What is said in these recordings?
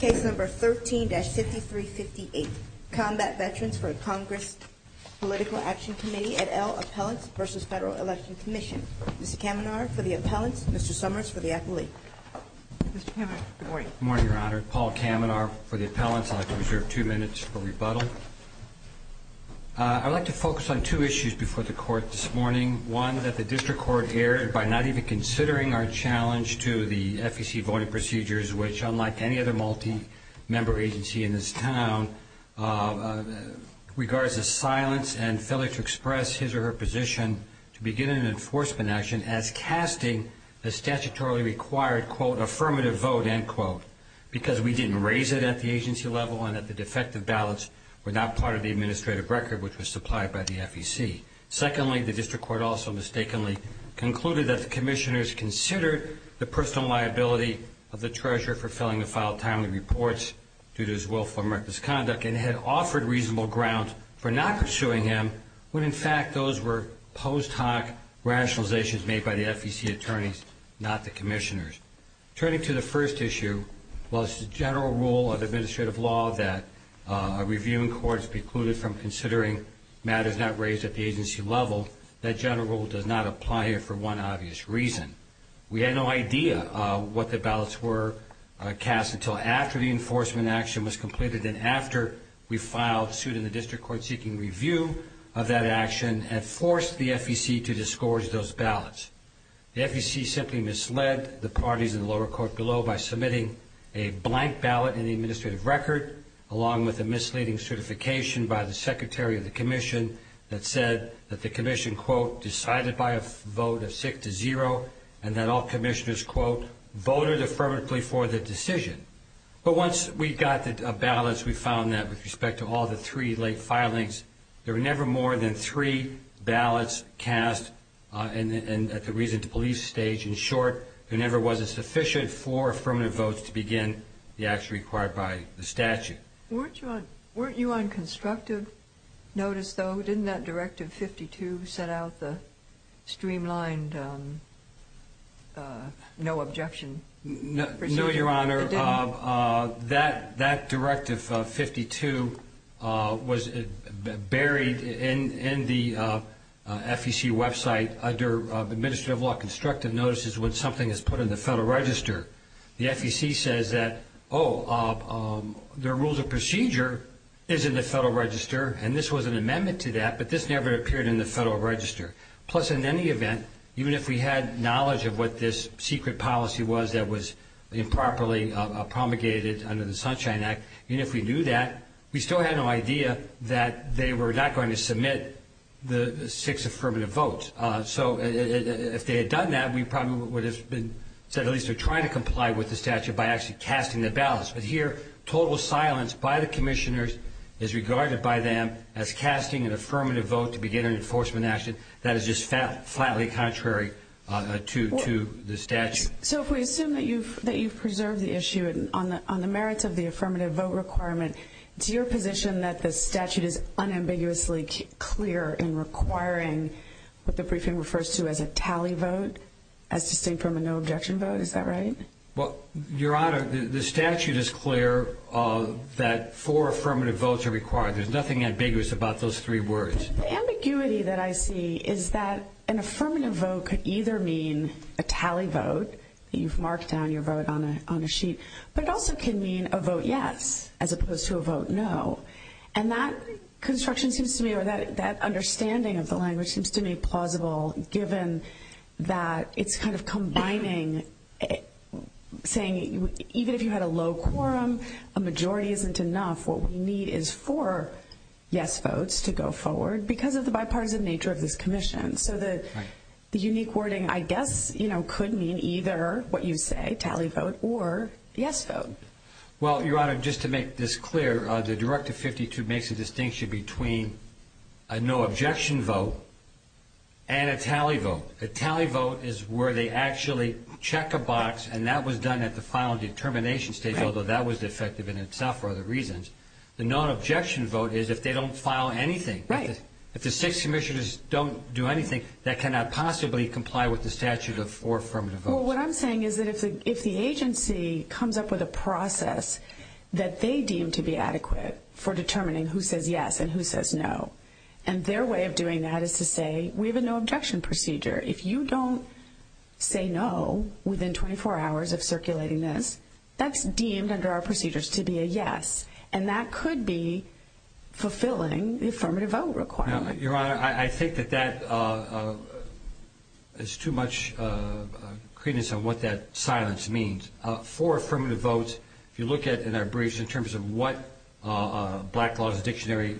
Case number 13-5358, Combat Veterans for Congress Political Action Committee et al. Appellants v. Federal Election Commission. Mr. Kamenar for the appellants, Mr. Summers for the appellee. Good morning, your honor. Paul Kamenar for the appellants. I'd like to reserve two minutes for rebuttal. I'd like to focus on two issues before the court this morning. One, that the district court erred by not even considering our challenge to the FEC voting procedures, which unlike any other multi-member agency in this town, regards the silence and failure to express his or her position to begin an enforcement action as casting a statutorily required, quote, affirmative vote, end quote. Because we didn't raise it at the agency level and that the defective ballots were not part of the administrative record which was supplied by the FEC. Secondly, the district court also mistakenly concluded that the commissioners considered the personal liability of the treasurer for failing to file timely reports due to his willful misconduct and had offered reasonable ground for not pursuing him when in fact those were post hoc rationalizations made by the FEC attorneys, not the commissioners. Turning to the first issue, while it's the general rule of administrative law that a review in court is precluded from considering matters not raised at the agency level, that general rule does not apply here for one obvious reason. We had no idea what the ballots were cast until after the enforcement action was completed and after we filed suit in the district court seeking review of that action and forced the FEC to discourage those ballots. The FEC simply misled the parties in the lower court below by submitting a blank ballot in the administrative record along with a misleading certification by the secretary of the commission that said that the commission, quote, decided by a vote of six to zero and that all commissioners, quote, voted affirmatively for the decision. But once we got the ballots, we found that with respect to all the three late filings, there were never more than three ballots cast at the reason to believe stage. In short, there never was a sufficient four affirmative votes to begin the action required by the statute. Weren't you on constructive notice, though? Didn't that Directive 52 set out the streamlined no objection procedure? No, Your Honor. That Directive 52 was buried in the FEC website under administrative law constructive notices when something is put in the Federal Register. The FEC says that, oh, the rules of procedure is in the Federal Register, and this was an amendment to that, but this never appeared in the Federal Register. Plus, in any event, even if we had knowledge of what this secret policy was that was improperly promulgated under the Sunshine Act, even if we knew that, we still had no idea that they were not going to submit the six affirmative votes. So if they had done that, we probably would have said at least they're trying to comply with the statute by actually casting the ballots. But here, total silence by the commissioners is regarded by them as casting an affirmative vote to begin an enforcement action that is just flatly contrary to the statute. So if we assume that you've preserved the issue on the merits of the affirmative vote requirement, it's your position that the statute is unambiguously clear in requiring what the briefing refers to as a tally vote as distinct from a no objection vote? Is that right? Well, Your Honor, the statute is clear that four affirmative votes are required. There's nothing ambiguous about those three words. The ambiguity that I see is that an affirmative vote could either mean a tally vote, that you've marked down your vote on a sheet, but it also can mean a vote yes as opposed to a vote no. And that construction seems to me or that understanding of the language seems to me plausible given that it's kind of combining, saying even if you had a low quorum, a majority isn't enough. What we need is four yes votes to go forward because of the bipartisan nature of this commission. So the unique wording, I guess, could mean either what you say, tally vote, or yes vote. Well, Your Honor, just to make this clear, the Directive 52 makes a distinction between a no objection vote and a tally vote. A tally vote is where they actually check a box, and that was done at the final determination stage, although that was defective in itself for other reasons. The no objection vote is if they don't file anything. Right. If the six commissioners don't do anything, that cannot possibly comply with the statute of four affirmative votes. Well, what I'm saying is that if the agency comes up with a process that they deem to be adequate for determining who says yes and who says no, and their way of doing that is to say we have a no objection procedure. If you don't say no within 24 hours of circulating this, that's deemed under our procedures to be a yes, and that could be fulfilling the affirmative vote requirement. Your Honor, I think that that is too much credence on what that silence means. Four affirmative votes, if you look at in our briefs in terms of what Black Laws Dictionary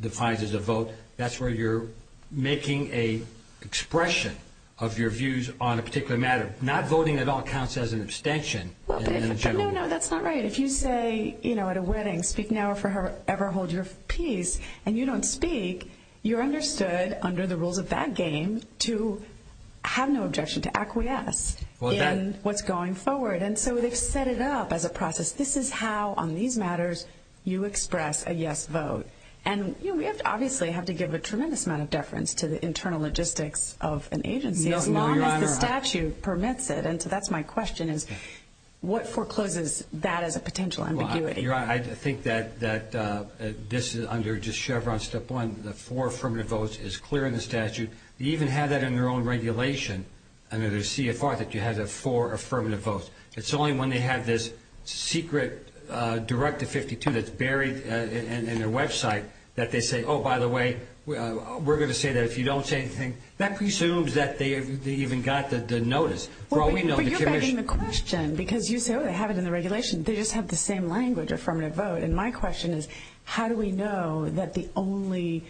defines as a vote, that's where you're making an expression of your views on a particular matter. Not voting at all counts as an abstention. No, no, that's not right. If you say at a wedding, speak now or forever hold your peace, and you don't speak, you're understood under the rules of that game to have no objection, to acquiesce in what's going forward. And so they've set it up as a process. This is how on these matters you express a yes vote. And we obviously have to give a tremendous amount of deference to the internal logistics of an agency as long as the statute permits it. And so that's my question, is what forecloses that as a potential ambiguity? Your Honor, I think that this is under just Chevron Step 1, the four affirmative votes is clear in the statute. They even have that in their own regulation under the CFR that you have the four affirmative votes. It's only when they have this secret Directive 52 that's buried in their website that they say, oh, by the way, we're going to say that. If you don't say anything, that presumes that they even got the notice. Well, you're begging the question because you say, oh, they have it in the regulation. They just have the same language, affirmative vote. And my question is, how do we know that the only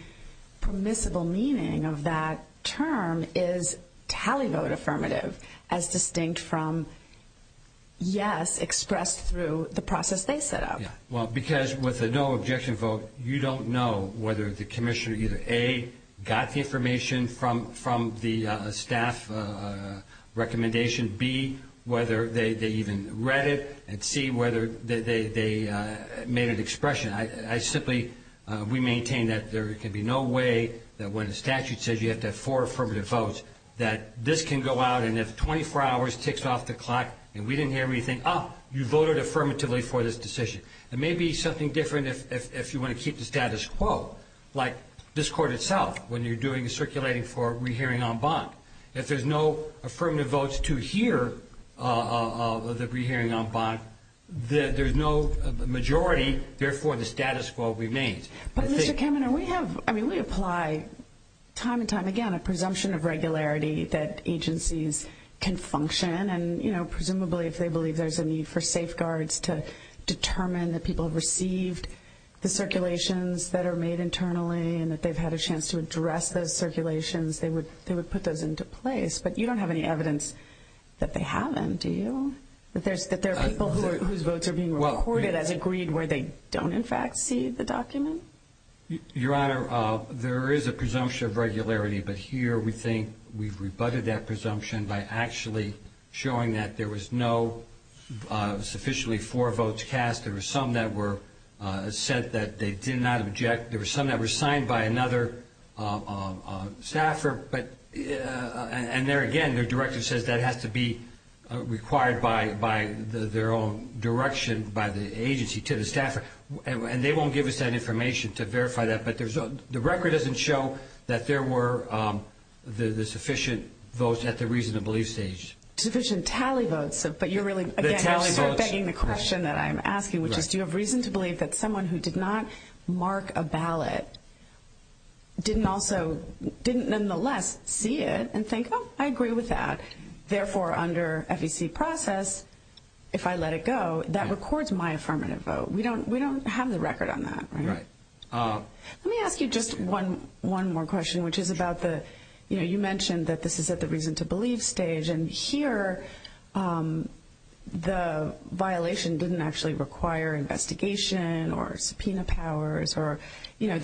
permissible meaning of that term is tally vote affirmative as distinct from yes expressed through the process they set up? Well, because with a no objection vote, you don't know whether the commissioner either, A, got the information from the staff recommendation, B, whether they even read it, and C, whether they made an expression. I simply we maintain that there can be no way that when a statute says you have to have four affirmative votes, that this can go out and if 24 hours ticks off the clock and we didn't hear anything, oh, you voted affirmatively for this decision. It may be something different if you want to keep the status quo, like this court itself, when you're doing circulating for re-hearing en banc. If there's no affirmative votes to hear the re-hearing en banc, there's no majority. Therefore, the status quo remains. But, Mr. Kaminer, we have, I mean, we apply time and time again a presumption of regularity that agencies can function. And, you know, presumably if they believe there's a need for safeguards to determine that people received the circulations that are made internally and that they've had a chance to address those circulations, they would put those into place. But you don't have any evidence that they haven't, do you? That there are people whose votes are being recorded as agreed where they don't, in fact, see the document? Your Honor, there is a presumption of regularity. But here we think we've rebutted that presumption by actually showing that there was no sufficiently four votes cast. There were some that were said that they did not object. There were some that were signed by another staffer. And there again, the director says that has to be required by their own direction by the agency to the staffer. And they won't give us that information to verify that. But the record doesn't show that there were the sufficient votes at the reason to believe stage. Sufficient tally votes, but you're really, again, begging the question that I'm asking, which is do you have reason to believe that someone who did not mark a ballot didn't also, didn't nonetheless see it and think, oh, I agree with that. Therefore, under FEC process, if I let it go, that records my affirmative vote. We don't have the record on that, right? Right. Let me ask you just one more question, which is about the, you know, you mentioned that this is at the reason to believe stage. And here the violation didn't actually require investigation or subpoena powers or, you know,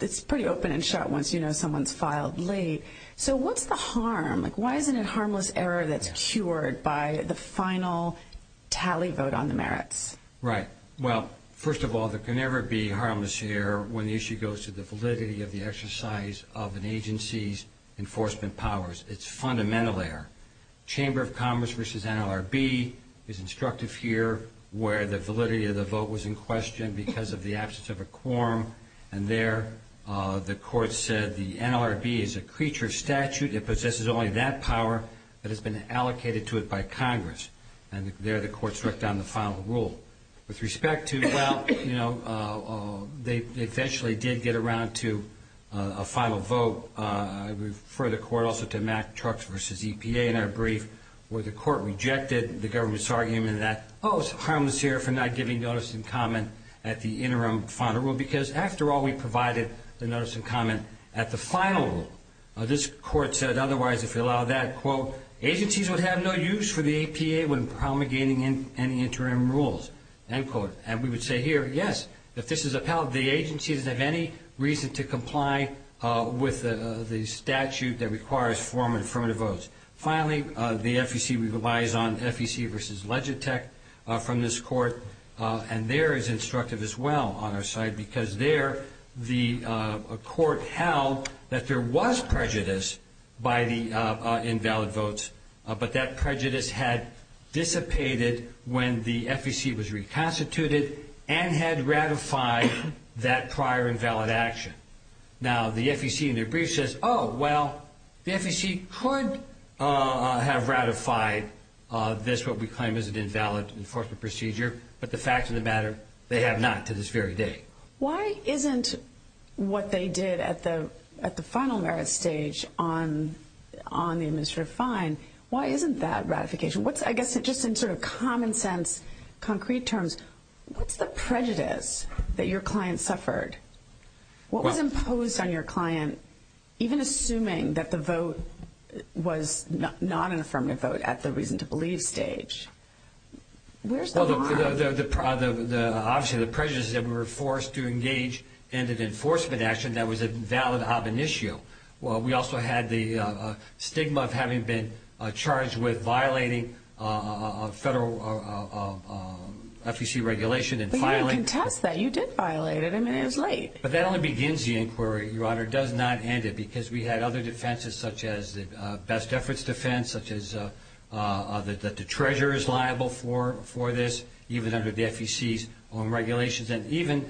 it's pretty open and shut once you know someone's filed late. So what's the harm? Like why isn't it harmless error that's cured by the final tally vote on the merits? Right. Well, first of all, there can never be harmless error when the issue goes to the validity of the exercise of an agency's enforcement powers. It's fundamental error. Chamber of Commerce versus NLRB is instructive here where the validity of the vote was in question because of the absence of a quorum. And there the court said the NLRB is a creature of statute. It possesses only that power that has been allocated to it by Congress. And there the court struck down the final rule. With respect to, well, you know, they eventually did get around to a final vote. I refer the court also to Mack Trucks versus EPA in our brief where the court rejected the government's argument that, oh, it's harmless error for not giving notice and comment at the interim final rule because, after all, we provided the notice and comment at the final rule. This court said, otherwise, if we allow that, quote, agencies would have no use for the EPA when promulgating any interim rules, end quote. And we would say here, yes, if this is upheld, the agency doesn't have any reason to comply with the statute that requires formal affirmative votes. Finally, the FEC relies on FEC versus Legitech from this court. And there is instructive as well on our side because there the court held that there was prejudice by the invalid votes, but that prejudice had dissipated when the FEC was reconstituted and had ratified that prior invalid action. Now, the FEC in their brief says, oh, well, the FEC could have ratified this, which is what we claim is an invalid enforcement procedure, but the facts of the matter, they have not to this very day. Why isn't what they did at the final merit stage on the administrative fine, why isn't that ratification? What's, I guess, just in sort of common sense, concrete terms, what's the prejudice that your client suffered? What was imposed on your client, even assuming that the vote was not an affirmative vote at the reason to believe stage? Where's the line? Obviously, the prejudice is that we were forced to engage in an enforcement action that was a valid ob initio. We also had the stigma of having been charged with violating a federal FEC regulation and filing. You can't contest that. You did violate it. I mean, it was late. But that only begins the inquiry, Your Honor. It does not end it, because we had other defenses, such as the best efforts defense, such as that the treasurer is liable for this, even under the FEC's own regulations, and even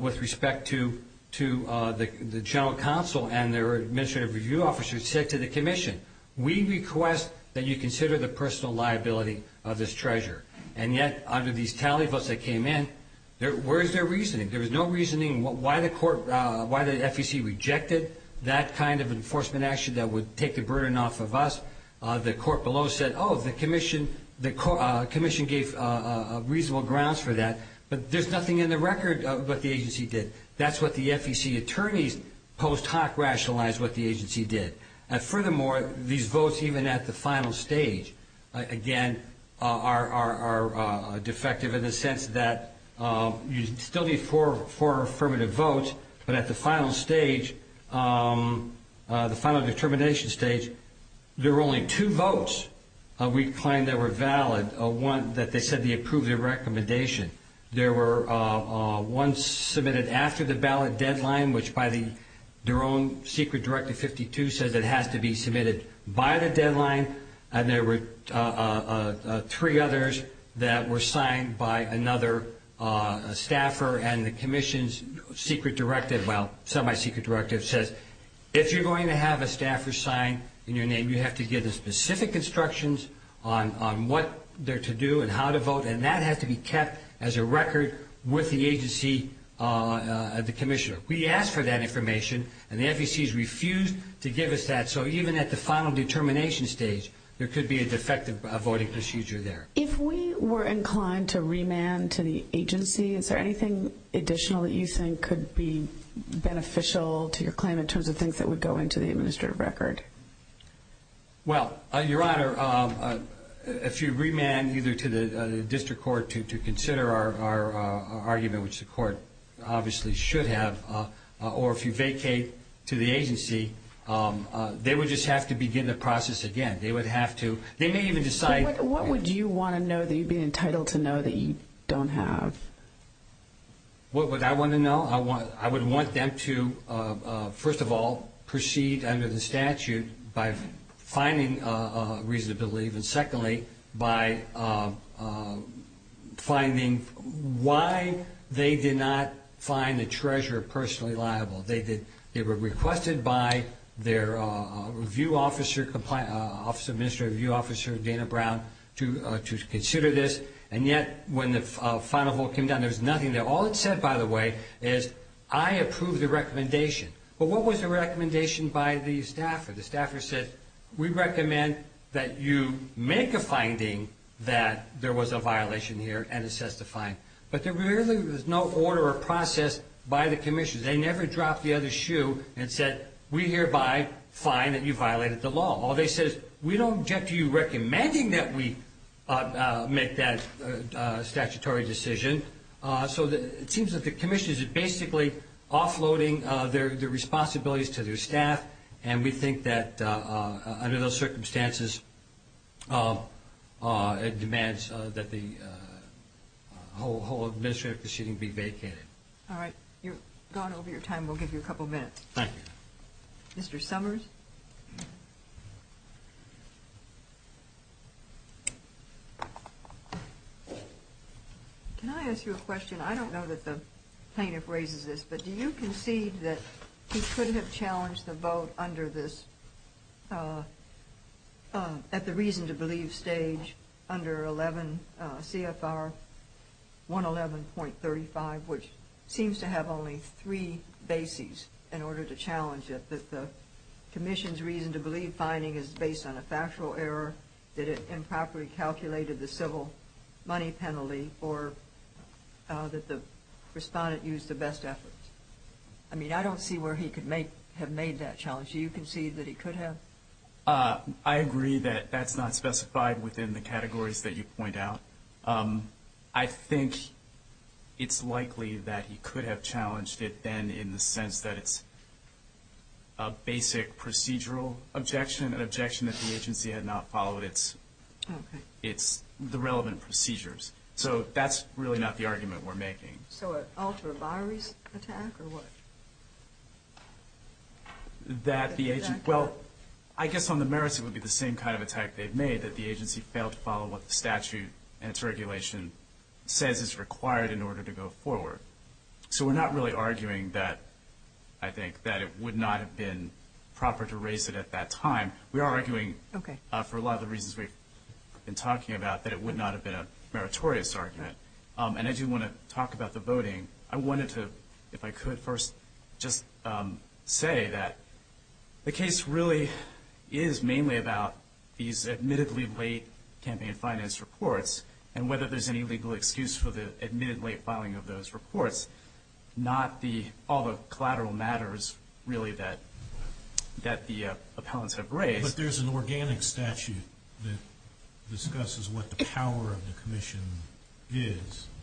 with respect to the general counsel and their administrative review officers said to the commission, we request that you consider the personal liability of this treasurer. And yet, under these tally votes that came in, where's their reasoning? There was no reasoning why the FEC rejected that kind of enforcement action that would take the burden off of us. The court below said, oh, the commission gave reasonable grounds for that. But there's nothing in the record of what the agency did. That's what the FEC attorneys post hoc rationalized what the agency did. And furthermore, these votes, even at the final stage, again, are defective in the sense that you still need four affirmative votes. But at the final stage, the final determination stage, there were only two votes we claimed that were valid, one that they said they approved the recommendation. There were ones submitted after the ballot deadline, which by their own secret directive 52 says it has to be submitted by the deadline. And there were three others that were signed by another staffer. And the commission's secret directive, well, semi-secret directive says, if you're going to have a staffer sign in your name, you have to give the specific instructions on what they're to do and how to vote. And that has to be kept as a record with the agency, the commissioner. We asked for that information, and the FEC has refused to give us that. So even at the final determination stage, there could be a defective voting procedure there. If we were inclined to remand to the agency, is there anything additional that you think could be beneficial to your claim in terms of things that would go into the administrative record? Well, Your Honor, if you remand either to the district court to consider our argument, which the court obviously should have, or if you vacate to the agency, they would just have to begin the process again. They would have to. They may even decide. What would you want to know that you'd be entitled to know that you don't have? What would I want to know? Well, I would want them to, first of all, proceed under the statute by finding a reason to leave, and secondly, by finding why they did not find the treasurer personally liable. They were requested by their review officer, Office of Administrative Review Officer Dana Brown, to consider this, and yet when the final vote came down, there was nothing there. All it said, by the way, is I approve the recommendation. But what was the recommendation by the staffer? The staffer said, we recommend that you make a finding that there was a violation here and assess the fine. But there really was no order or process by the commission. They never dropped the other shoe and said, we hereby find that you violated the law. All they said is, we don't object to you recommending that we make that statutory decision. So it seems that the commission is basically offloading their responsibilities to their staff, and we think that under those circumstances it demands that the whole administrative proceeding be vacated. All right, you've gone over your time. We'll give you a couple minutes. Thank you. Mr. Summers? Mr. Summers? Can I ask you a question? I don't know that the plaintiff raises this, but do you concede that he could have challenged the vote under this, at the reason-to-believe stage under 11 CFR 111.35, which seems to have only three bases in order to challenge it, that the commission's reason-to-believe finding is based on a factual error, that it improperly calculated the civil money penalty, or that the respondent used the best efforts? I mean, I don't see where he could have made that challenge. Do you concede that he could have? I agree that that's not specified within the categories that you point out. I think it's likely that he could have challenged it then in the sense that it's a basic procedural objection, an objection that the agency had not followed the relevant procedures. So that's really not the argument we're making. So an ultra-large attack, or what? Well, I guess on the merits, it would be the same kind of attack they've made, that the agency failed to follow what the statute and its regulation says is required in order to go forward. So we're not really arguing that, I think, that it would not have been proper to raise it at that time. We are arguing, for a lot of the reasons we've been talking about, that it would not have been a meritorious argument. And I do want to talk about the voting. I wanted to, if I could, first just say that the case really is mainly about these admittedly late campaign finance reports and whether there's any legal excuse for the admittedly late filing of those reports, not all the collateral matters, really, that the appellants have raised. But there's an organic statute that discusses what the power of the commission is. And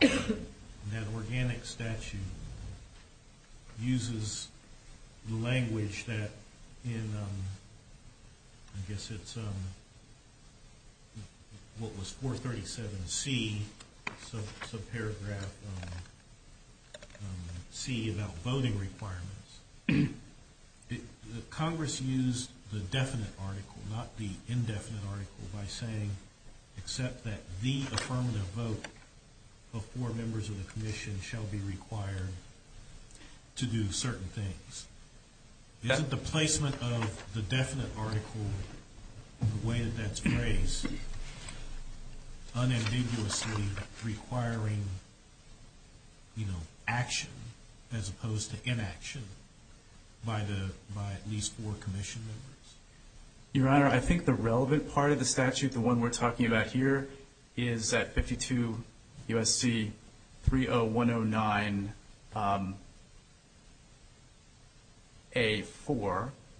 that organic statute uses the language that, I guess it's what was 437C, subparagraph C, about voting requirements. Congress used the definite article, not the indefinite article, by saying, except that the affirmative vote before members of the commission shall be required to do certain things. Isn't the placement of the definite article, the way that that's raised, unambiguously requiring action as opposed to inaction by at least four commission members? Your Honor, I think the relevant part of the statute, the one we're talking about here, is at 52 U.S.C. 30109A4,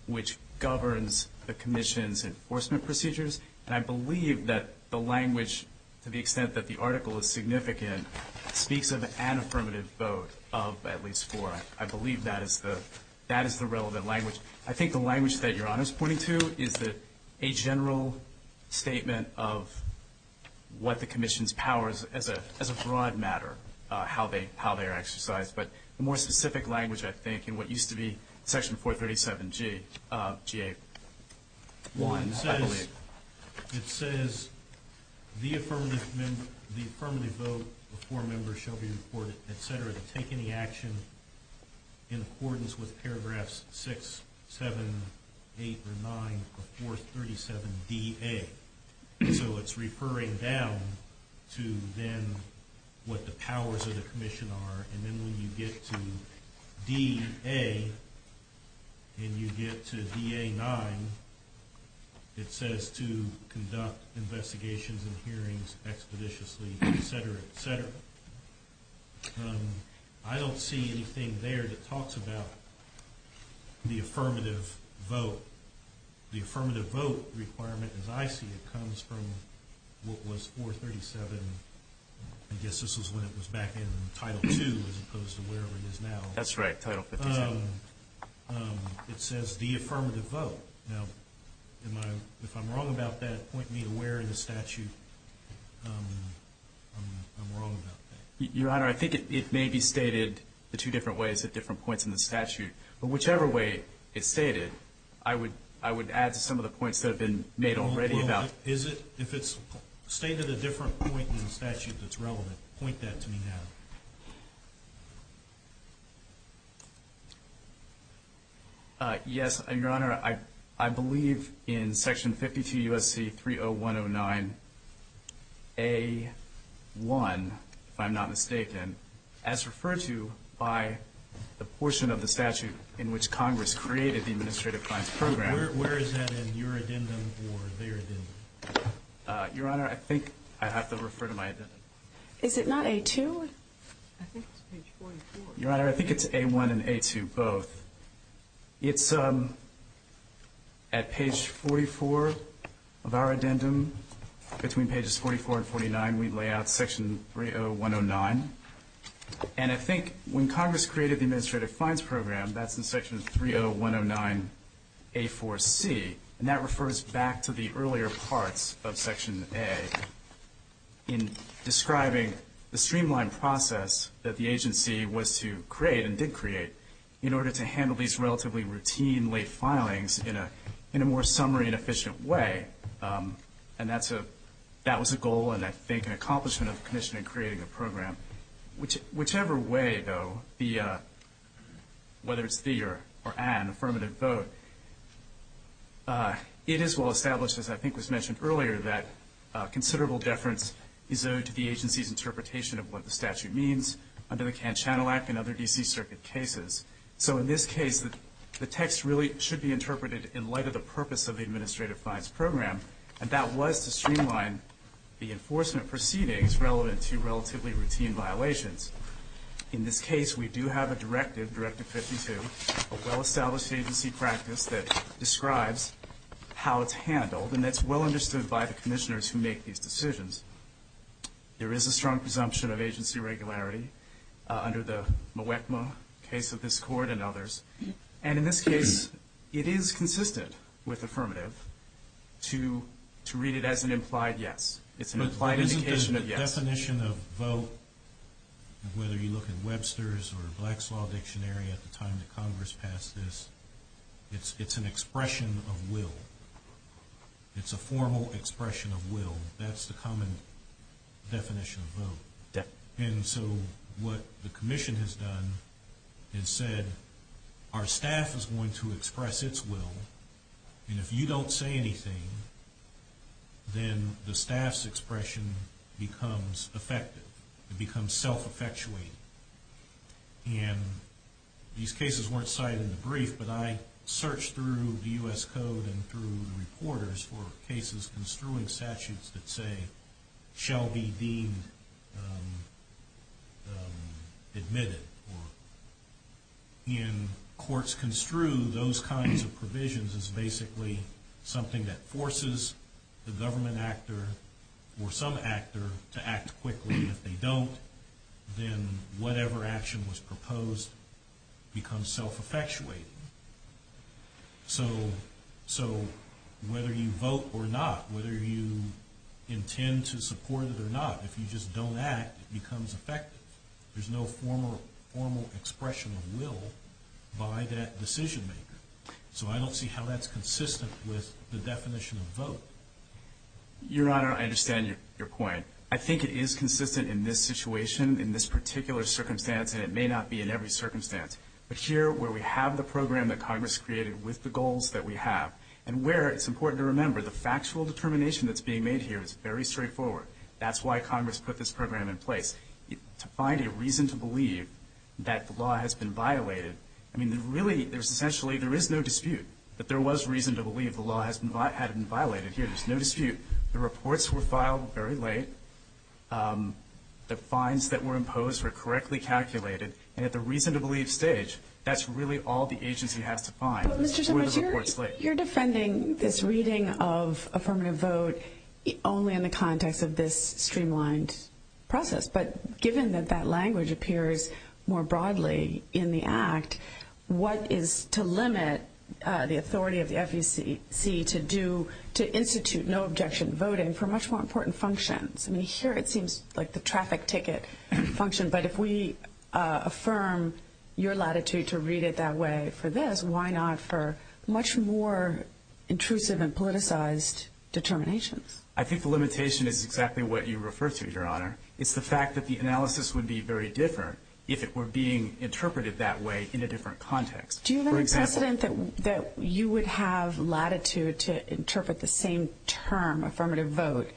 which governs the commission's enforcement procedures. And I believe that the language, to the extent that the article is significant, speaks of an affirmative vote of at least four. I believe that is the relevant language. I think the language that Your Honor is pointing to is a general statement of what the commission's powers, as a broad matter, how they are exercised. But the more specific language, I think, in what used to be section 437G, GA1, I believe, it says the affirmative vote before members shall be reported, et cetera, to take any action in accordance with paragraphs 6, 7, 8, or 9 of 437DA. So it's referring down to then what the powers of the commission are. And then when you get to DA and you get to DA9, it says to conduct investigations and hearings expeditiously, et cetera, et cetera. I don't see anything there that talks about the affirmative vote. The affirmative vote requirement, as I see it, comes from what was 437, I guess this was when it was back in Title II as opposed to wherever it is now. That's right, Title 57. It says the affirmative vote. Now, if I'm wrong about that, point me to where in the statute I'm wrong about that. Your Honor, I think it may be stated the two different ways at different points in the statute. But whichever way it's stated, I would add to some of the points that have been made already. Is it? If it's stated at a different point in the statute that's relevant, point that to me now. Yes, Your Honor. Your Honor, I believe in Section 52 U.S.C. 30109A1, if I'm not mistaken, as referred to by the portion of the statute in which Congress created the Administrative Clients Program. Where is that in your addendum or their addendum? Your Honor, I think I'd have to refer to my addendum. Is it not A2? I think it's page 44. Your Honor, I think it's A1 and A2 both. It's at page 44 of our addendum. Between pages 44 and 49, we lay out Section 30109. And I think when Congress created the Administrative Clients Program, that's in Section 30109A4C. And that refers back to the earlier parts of Section A in describing the streamlined process that the agency was to create and did create in order to handle these relatively routine, late filings in a more summary and efficient way. And that was a goal and, I think, an accomplishment of the commission in creating the program. Whichever way, though, whether it's the or an affirmative vote, it is well established, as I think was mentioned earlier, that considerable deference is owed to the agency's interpretation of what the statute means under the Cannes Channel Act and other D.C. Circuit cases. So in this case, the text really should be interpreted in light of the purpose of the Administrative Clients Program, and that was to streamline the enforcement proceedings relevant to relatively routine violations. In this case, we do have a directive, Directive 52, a well-established agency practice that describes how it's handled, and that's well understood by the commissioners who make these decisions. There is a strong presumption of agency regularity under the Mwekma case of this Court and others. And in this case, it is consistent with affirmative to read it as an implied yes. It's an implied indication of yes. But isn't the definition of vote, whether you look at Webster's or Black's Law Dictionary at the time that Congress passed this, it's an expression of will. It's a formal expression of will. That's the common definition of vote. And so what the commission has done and said, our staff is going to express its will, and if you don't say anything, then the staff's expression becomes effective. It becomes self-effectuating. And these cases weren't cited in the brief, but I searched through the U.S. Code and through reporters for cases construing statutes that say, shall be deemed admitted. And courts construe those kinds of provisions as basically something that forces the government actor or some actor to act quickly. If they don't, then whatever action was proposed becomes self-effectuating. So whether you vote or not, whether you intend to support it or not, if you just don't act, it becomes effective. There's no formal expression of will by that decision-maker. So I don't see how that's consistent with the definition of vote. Your Honor, I understand your point. I think it is consistent in this situation, in this particular circumstance, and it may not be in every circumstance. But here, where we have the program that Congress created with the goals that we have, and where it's important to remember the factual determination that's being made here is very straightforward. That's why Congress put this program in place, to find a reason to believe that the law has been violated. I mean, really, there's essentially no dispute that there was reason to believe the law had been violated here. There's no dispute. The reports were filed very late. The fines that were imposed were correctly calculated. And at the reason to believe stage, that's really all the agency has to find, were the reports late. You're defending this reading of affirmative vote only in the context of this streamlined process. But given that that language appears more broadly in the Act, what is to limit the authority of the FEC to institute no-objection voting for much more important functions? I mean, here it seems like the traffic ticket function. But if we affirm your latitude to read it that way for this, why not for much more intrusive and politicized determinations? I think the limitation is exactly what you refer to, Your Honor. It's the fact that the analysis would be very different if it were being interpreted that way in a different context. Do you have a precedent that you would have latitude to interpret the same term, affirmative vote,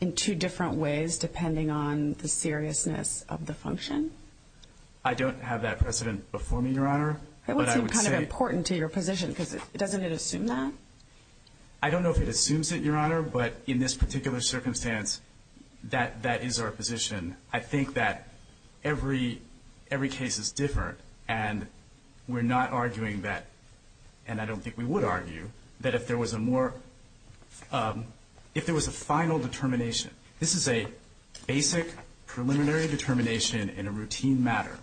in two different ways depending on the seriousness of the function? I don't have that precedent before me, Your Honor. It would seem kind of important to your position, because doesn't it assume that? I don't know if it assumes it, Your Honor. But in this particular circumstance, that is our position. I think that every case is different. And we're not arguing that, and I don't think we would argue, that if there was a more, if there was a final determination. This is a basic preliminary determination in a routine matter.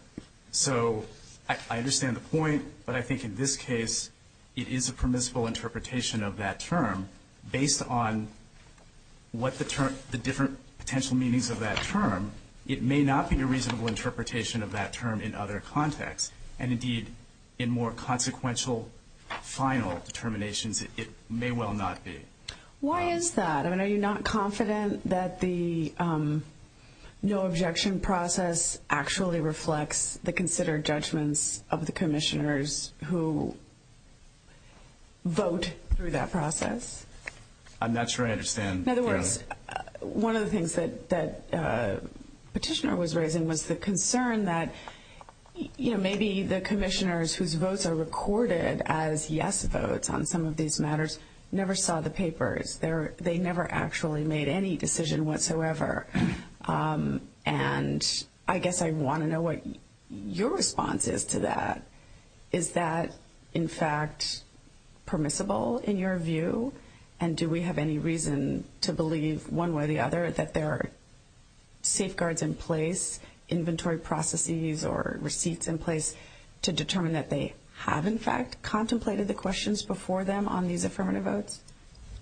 So I understand the point, but I think in this case, it is a permissible interpretation of that term. Based on what the different potential meanings of that term, it may not be a reasonable interpretation of that term in other contexts. And indeed, in more consequential final determinations, it may well not be. Why is that? I mean, are you not confident that the no-objection process actually reflects the considered judgments of the commissioners who vote through that process? I'm not sure I understand, Your Honor. In other words, one of the things that Petitioner was raising was the concern that, you know, maybe the commissioners whose votes are recorded as yes votes on some of these matters never saw the papers. They never actually made any decision whatsoever. And I guess I want to know what your response is to that. Is that, in fact, permissible in your view? And do we have any reason to believe, one way or the other, that there are safeguards in place, inventory processes or receipts in place, to determine that they have, in fact, contemplated the questions before them on these affirmative votes?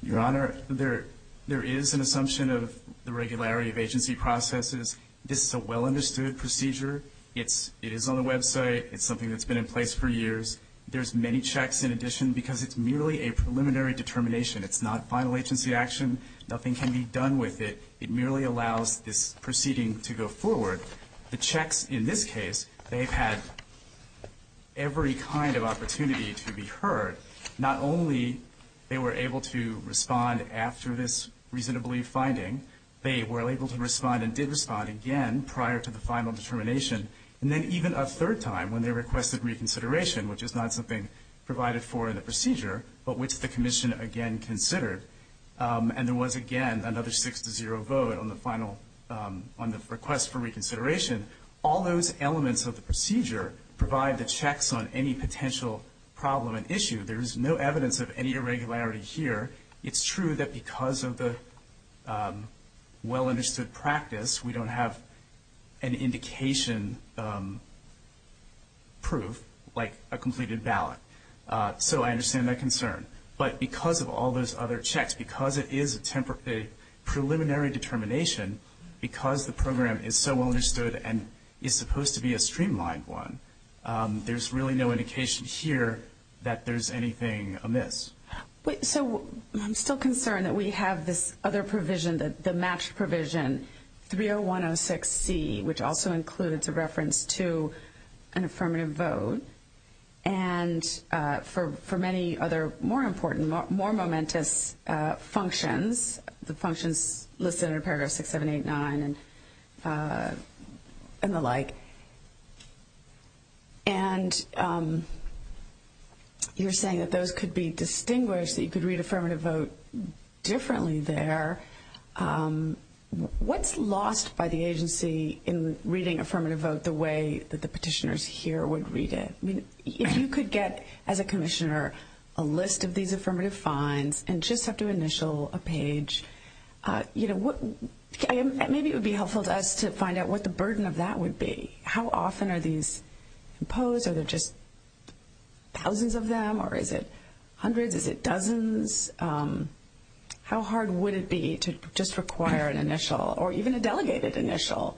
Your Honor, there is an assumption of the regularity of agency processes. This is a well-understood procedure. It is on the website. It's something that's been in place for years. There's many checks in addition because it's merely a preliminary determination. It's not final agency action. Nothing can be done with it. It merely allows this proceeding to go forward. The checks in this case, they've had every kind of opportunity to be heard. Not only they were able to respond after this reason to believe finding, they were able to respond and did respond again prior to the final determination. And then even a third time, when they requested reconsideration, which is not something provided for in the procedure, but which the commission again considered, and there was, again, another 6-0 vote on the final, on the request for reconsideration, all those elements of the procedure provide the checks on any potential problem and issue. There is no evidence of any irregularity here. It's true that because of the well-understood practice, we don't have an indication proof, like a completed ballot. So I understand that concern. But because of all those other checks, because it is a preliminary determination, because the program is so well-understood and is supposed to be a streamlined one, there's really no indication here that there's anything amiss. So I'm still concerned that we have this other provision, the matched provision, 30106C, which also includes a reference to an affirmative vote, and for many other more important, more momentous functions, the functions listed in paragraph 6789 and the like. And you're saying that those could be distinguished, that you could read affirmative vote differently there. What's lost by the agency in reading affirmative vote the way that the petitioners here would read it? If you could get, as a commissioner, a list of these affirmative fines and just have to initial a page, maybe it would be helpful to us to find out what the burden of that would be. How often are these imposed? Are there just thousands of them, or is it hundreds? Is it dozens? How hard would it be to just require an initial, or even a delegated initial,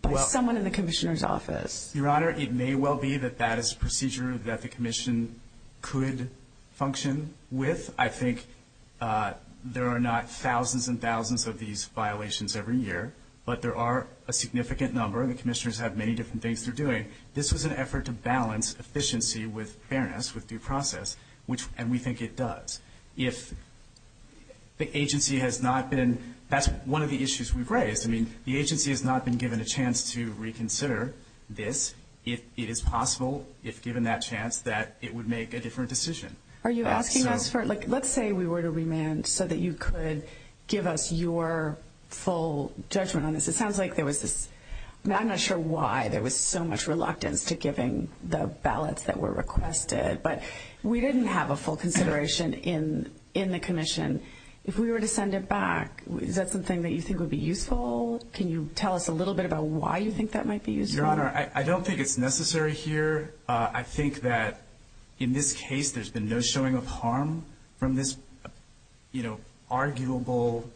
by someone in the commissioner's office? Your Honor, it may well be that that is a procedure that the commission could function with. I think there are not thousands and thousands of these violations every year, but there are a significant number, and the commissioners have many different things they're doing. This was an effort to balance efficiency with fairness, with due process, and we think it does. If the agency has not been – that's one of the issues we've raised. I mean, the agency has not been given a chance to reconsider this. It is possible, if given that chance, that it would make a different decision. Are you asking us for – let's say we were to remand so that you could give us your full judgment on this. It sounds like there was this – I'm not sure why there was so much reluctance to giving the ballots that were requested, but we didn't have a full consideration in the commission. If we were to send it back, is that something that you think would be useful? Can you tell us a little bit about why you think that might be useful? Your Honor, I don't think it's necessary here. I think that in this case, there's been no showing of harm from this, you know, arguable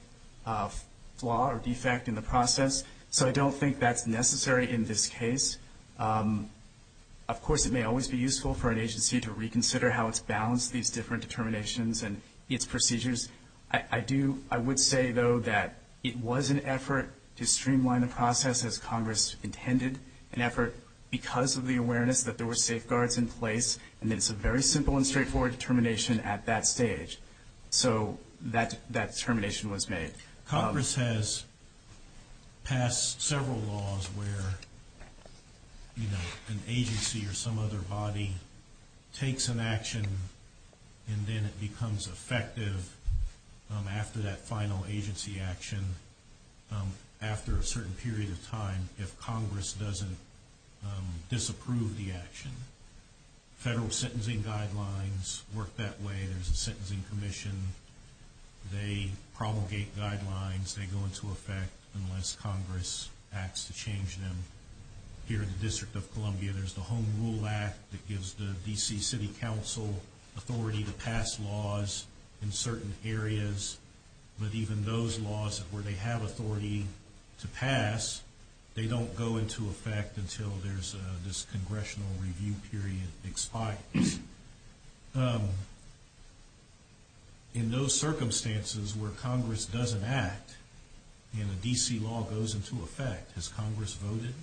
flaw or defect in the process, so I don't think that's necessary in this case. Of course, it may always be useful for an agency to reconsider how it's balanced these different determinations and its procedures. I do – I would say, though, that it was an effort to streamline the process, as Congress intended, an effort because of the awareness that there were safeguards in place, and it's a very simple and straightforward determination at that stage. So that determination was made. Congress has passed several laws where, you know, an agency or some other body takes an action and then it becomes effective after that final agency action, after a certain period of time, if Congress doesn't disapprove the action. Federal sentencing guidelines work that way. There's a sentencing commission. They promulgate guidelines. They go into effect unless Congress acts to change them. Here in the District of Columbia, there's the Home Rule Act that gives the D.C. City Council authority to pass laws in certain areas, but even those laws where they have authority to pass, they don't go into effect until there's this congressional review period expires. In those circumstances where Congress doesn't act and a D.C. law goes into effect, has Congress voted?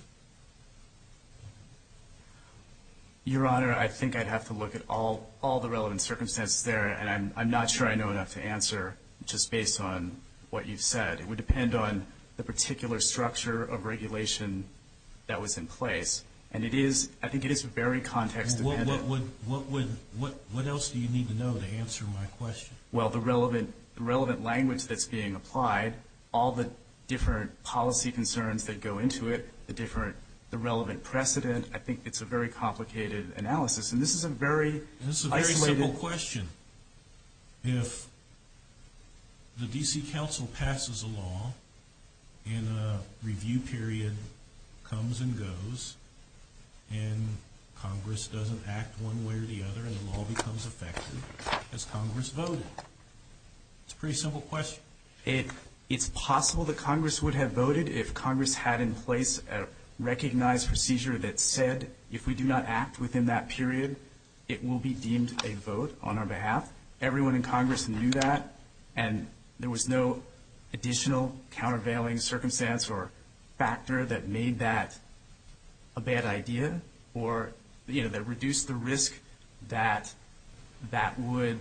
Your Honor, I think I'd have to look at all the relevant circumstances there, and I'm not sure I know enough to answer just based on what you've said. It would depend on the particular structure of regulation that was in place, and I think it is very context-dependent. What else do you need to know to answer my question? Well, the relevant language that's being applied, all the different policy concerns that go into it, the relevant precedent, I think it's a very complicated analysis, and this is a very isolated question. If the D.C. Council passes a law and a review period comes and goes and Congress doesn't act one way or the other and the law becomes effective, has Congress voted? It's a pretty simple question. It's possible that Congress would have voted if Congress had in place a recognized procedure that said if we do not act within that period, it will be deemed a vote on our behalf. Everyone in Congress knew that, and there was no additional countervailing circumstance or factor that made that a bad idea or, you know, that reduced the risk that that would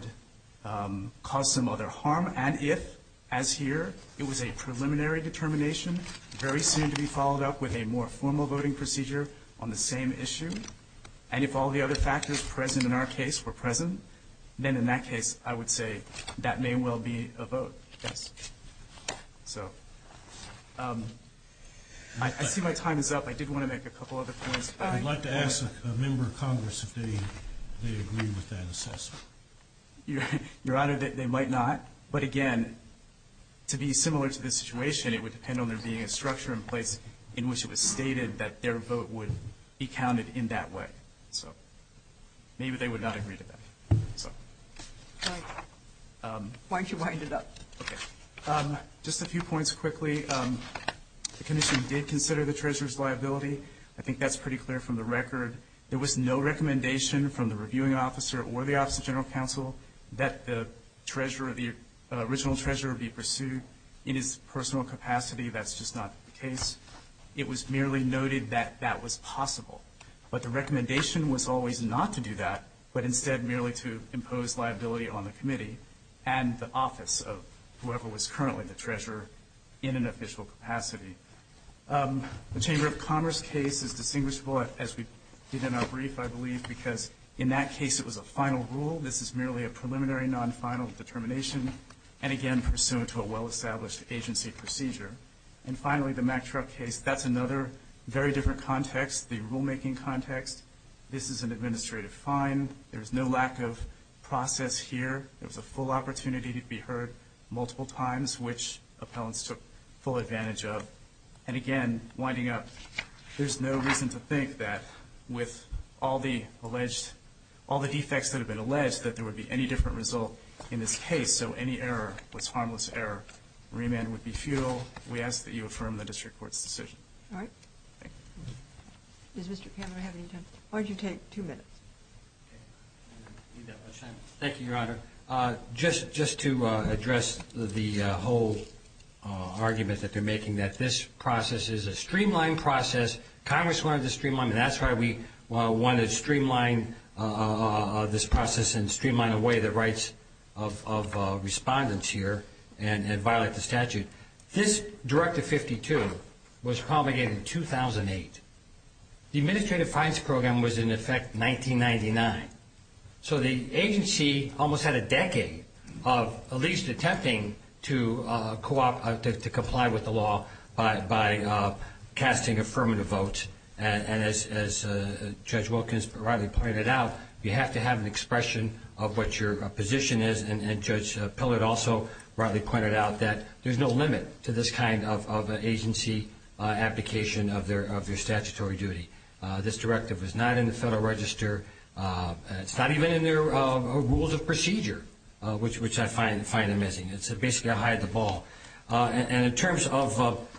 cause some other harm. And if, as here, it was a preliminary determination, very soon to be followed up with a more formal voting procedure on the same issue, and if all the other factors present in our case were present, then in that case I would say that may well be a vote, yes. So I see my time is up. I did want to make a couple other points. I'd like to ask a member of Congress if they agree with that assessment. Your Honor, they might not. But, again, to be similar to this situation, it would depend on there being a structure in place in which it was stated that their vote would be counted in that way. So maybe they would not agree to that. Why don't you wind it up? Okay. Just a few points quickly. The commission did consider the treasurer's liability. I think that's pretty clear from the record. There was no recommendation from the reviewing officer or the Office of General Counsel that the treasurer, the original treasurer, be pursued. In his personal capacity, that's just not the case. It was merely noted that that was possible. But the recommendation was always not to do that, but instead merely to impose liability on the committee and the office of whoever was currently the treasurer in an official capacity. The Chamber of Commerce case is distinguishable, as we did in our brief, I believe, because in that case it was a final rule. This is merely a preliminary, non-final determination and, again, pursuant to a well-established agency procedure. And finally, the Mack Truck case, that's another very different context, the rulemaking context. This is an administrative fine. There's no lack of process here. There was a full opportunity to be heard multiple times, which appellants took full advantage of. And, again, winding up, there's no reason to think that with all the alleged all the defects that have been alleged that there would be any different result in this case. So any error was harmless error. Remand would be futile. We ask that you affirm the district court's decision. All right. Thank you. Does Mr. Kammerer have any time? Why don't you take two minutes? Okay. I don't need that much time. Thank you, Your Honor. Just to address the whole argument that they're making, that this process is a streamlined process. Congress wanted to streamline it, and that's why we wanted to streamline this process and streamline away the rights of respondents here and violate the statute. This Directive 52 was promulgated in 2008. The Administrative Fines Program was in effect 1999. So the agency almost had a decade of at least attempting to comply with the law by casting affirmative votes. And as Judge Wilkins rightly pointed out, you have to have an expression of what your position is. And Judge Pillard also rightly pointed out that there's no limit to this kind of agency application of your statutory duty. This directive is not in the Federal Register. It's not even in the Rules of Procedure, which I find amiss. Basically, I hide the ball. And in terms of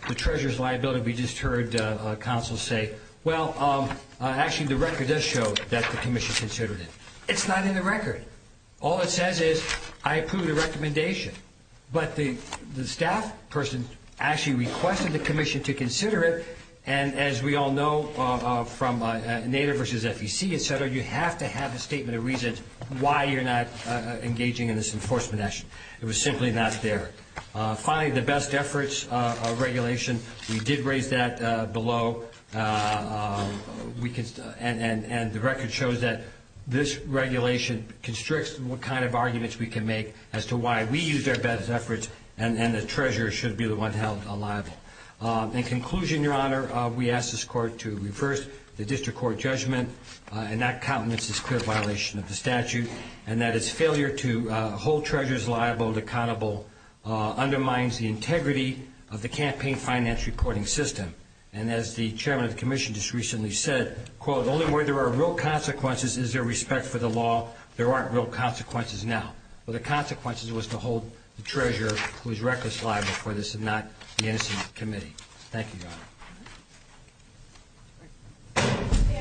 the treasurer's liability, we just heard counsel say, well, actually the record does show that the commission considered it. It's not in the record. All it says is, I approve the recommendation. But the staff person actually requested the commission to consider it, and as we all know from NADER versus FEC, et cetera, you have to have a statement of reason why you're not engaging in this enforcement action. It was simply not there. Finally, the best efforts regulation, we did raise that below, and the record shows that this regulation constricts what kind of arguments we can make as to why we use their best efforts and the treasurer should be the one held liable. In conclusion, Your Honor, we ask this court to reverse the district court judgment and not countenance this clear violation of the statute and that its failure to hold treasurers liable and accountable undermines the integrity of the campaign finance reporting system. And as the chairman of the commission just recently said, quote, only where there are real consequences is there respect for the law. There aren't real consequences now. Well, the consequences was to hold the treasurer who is reckless liable for this and not the innocent committee.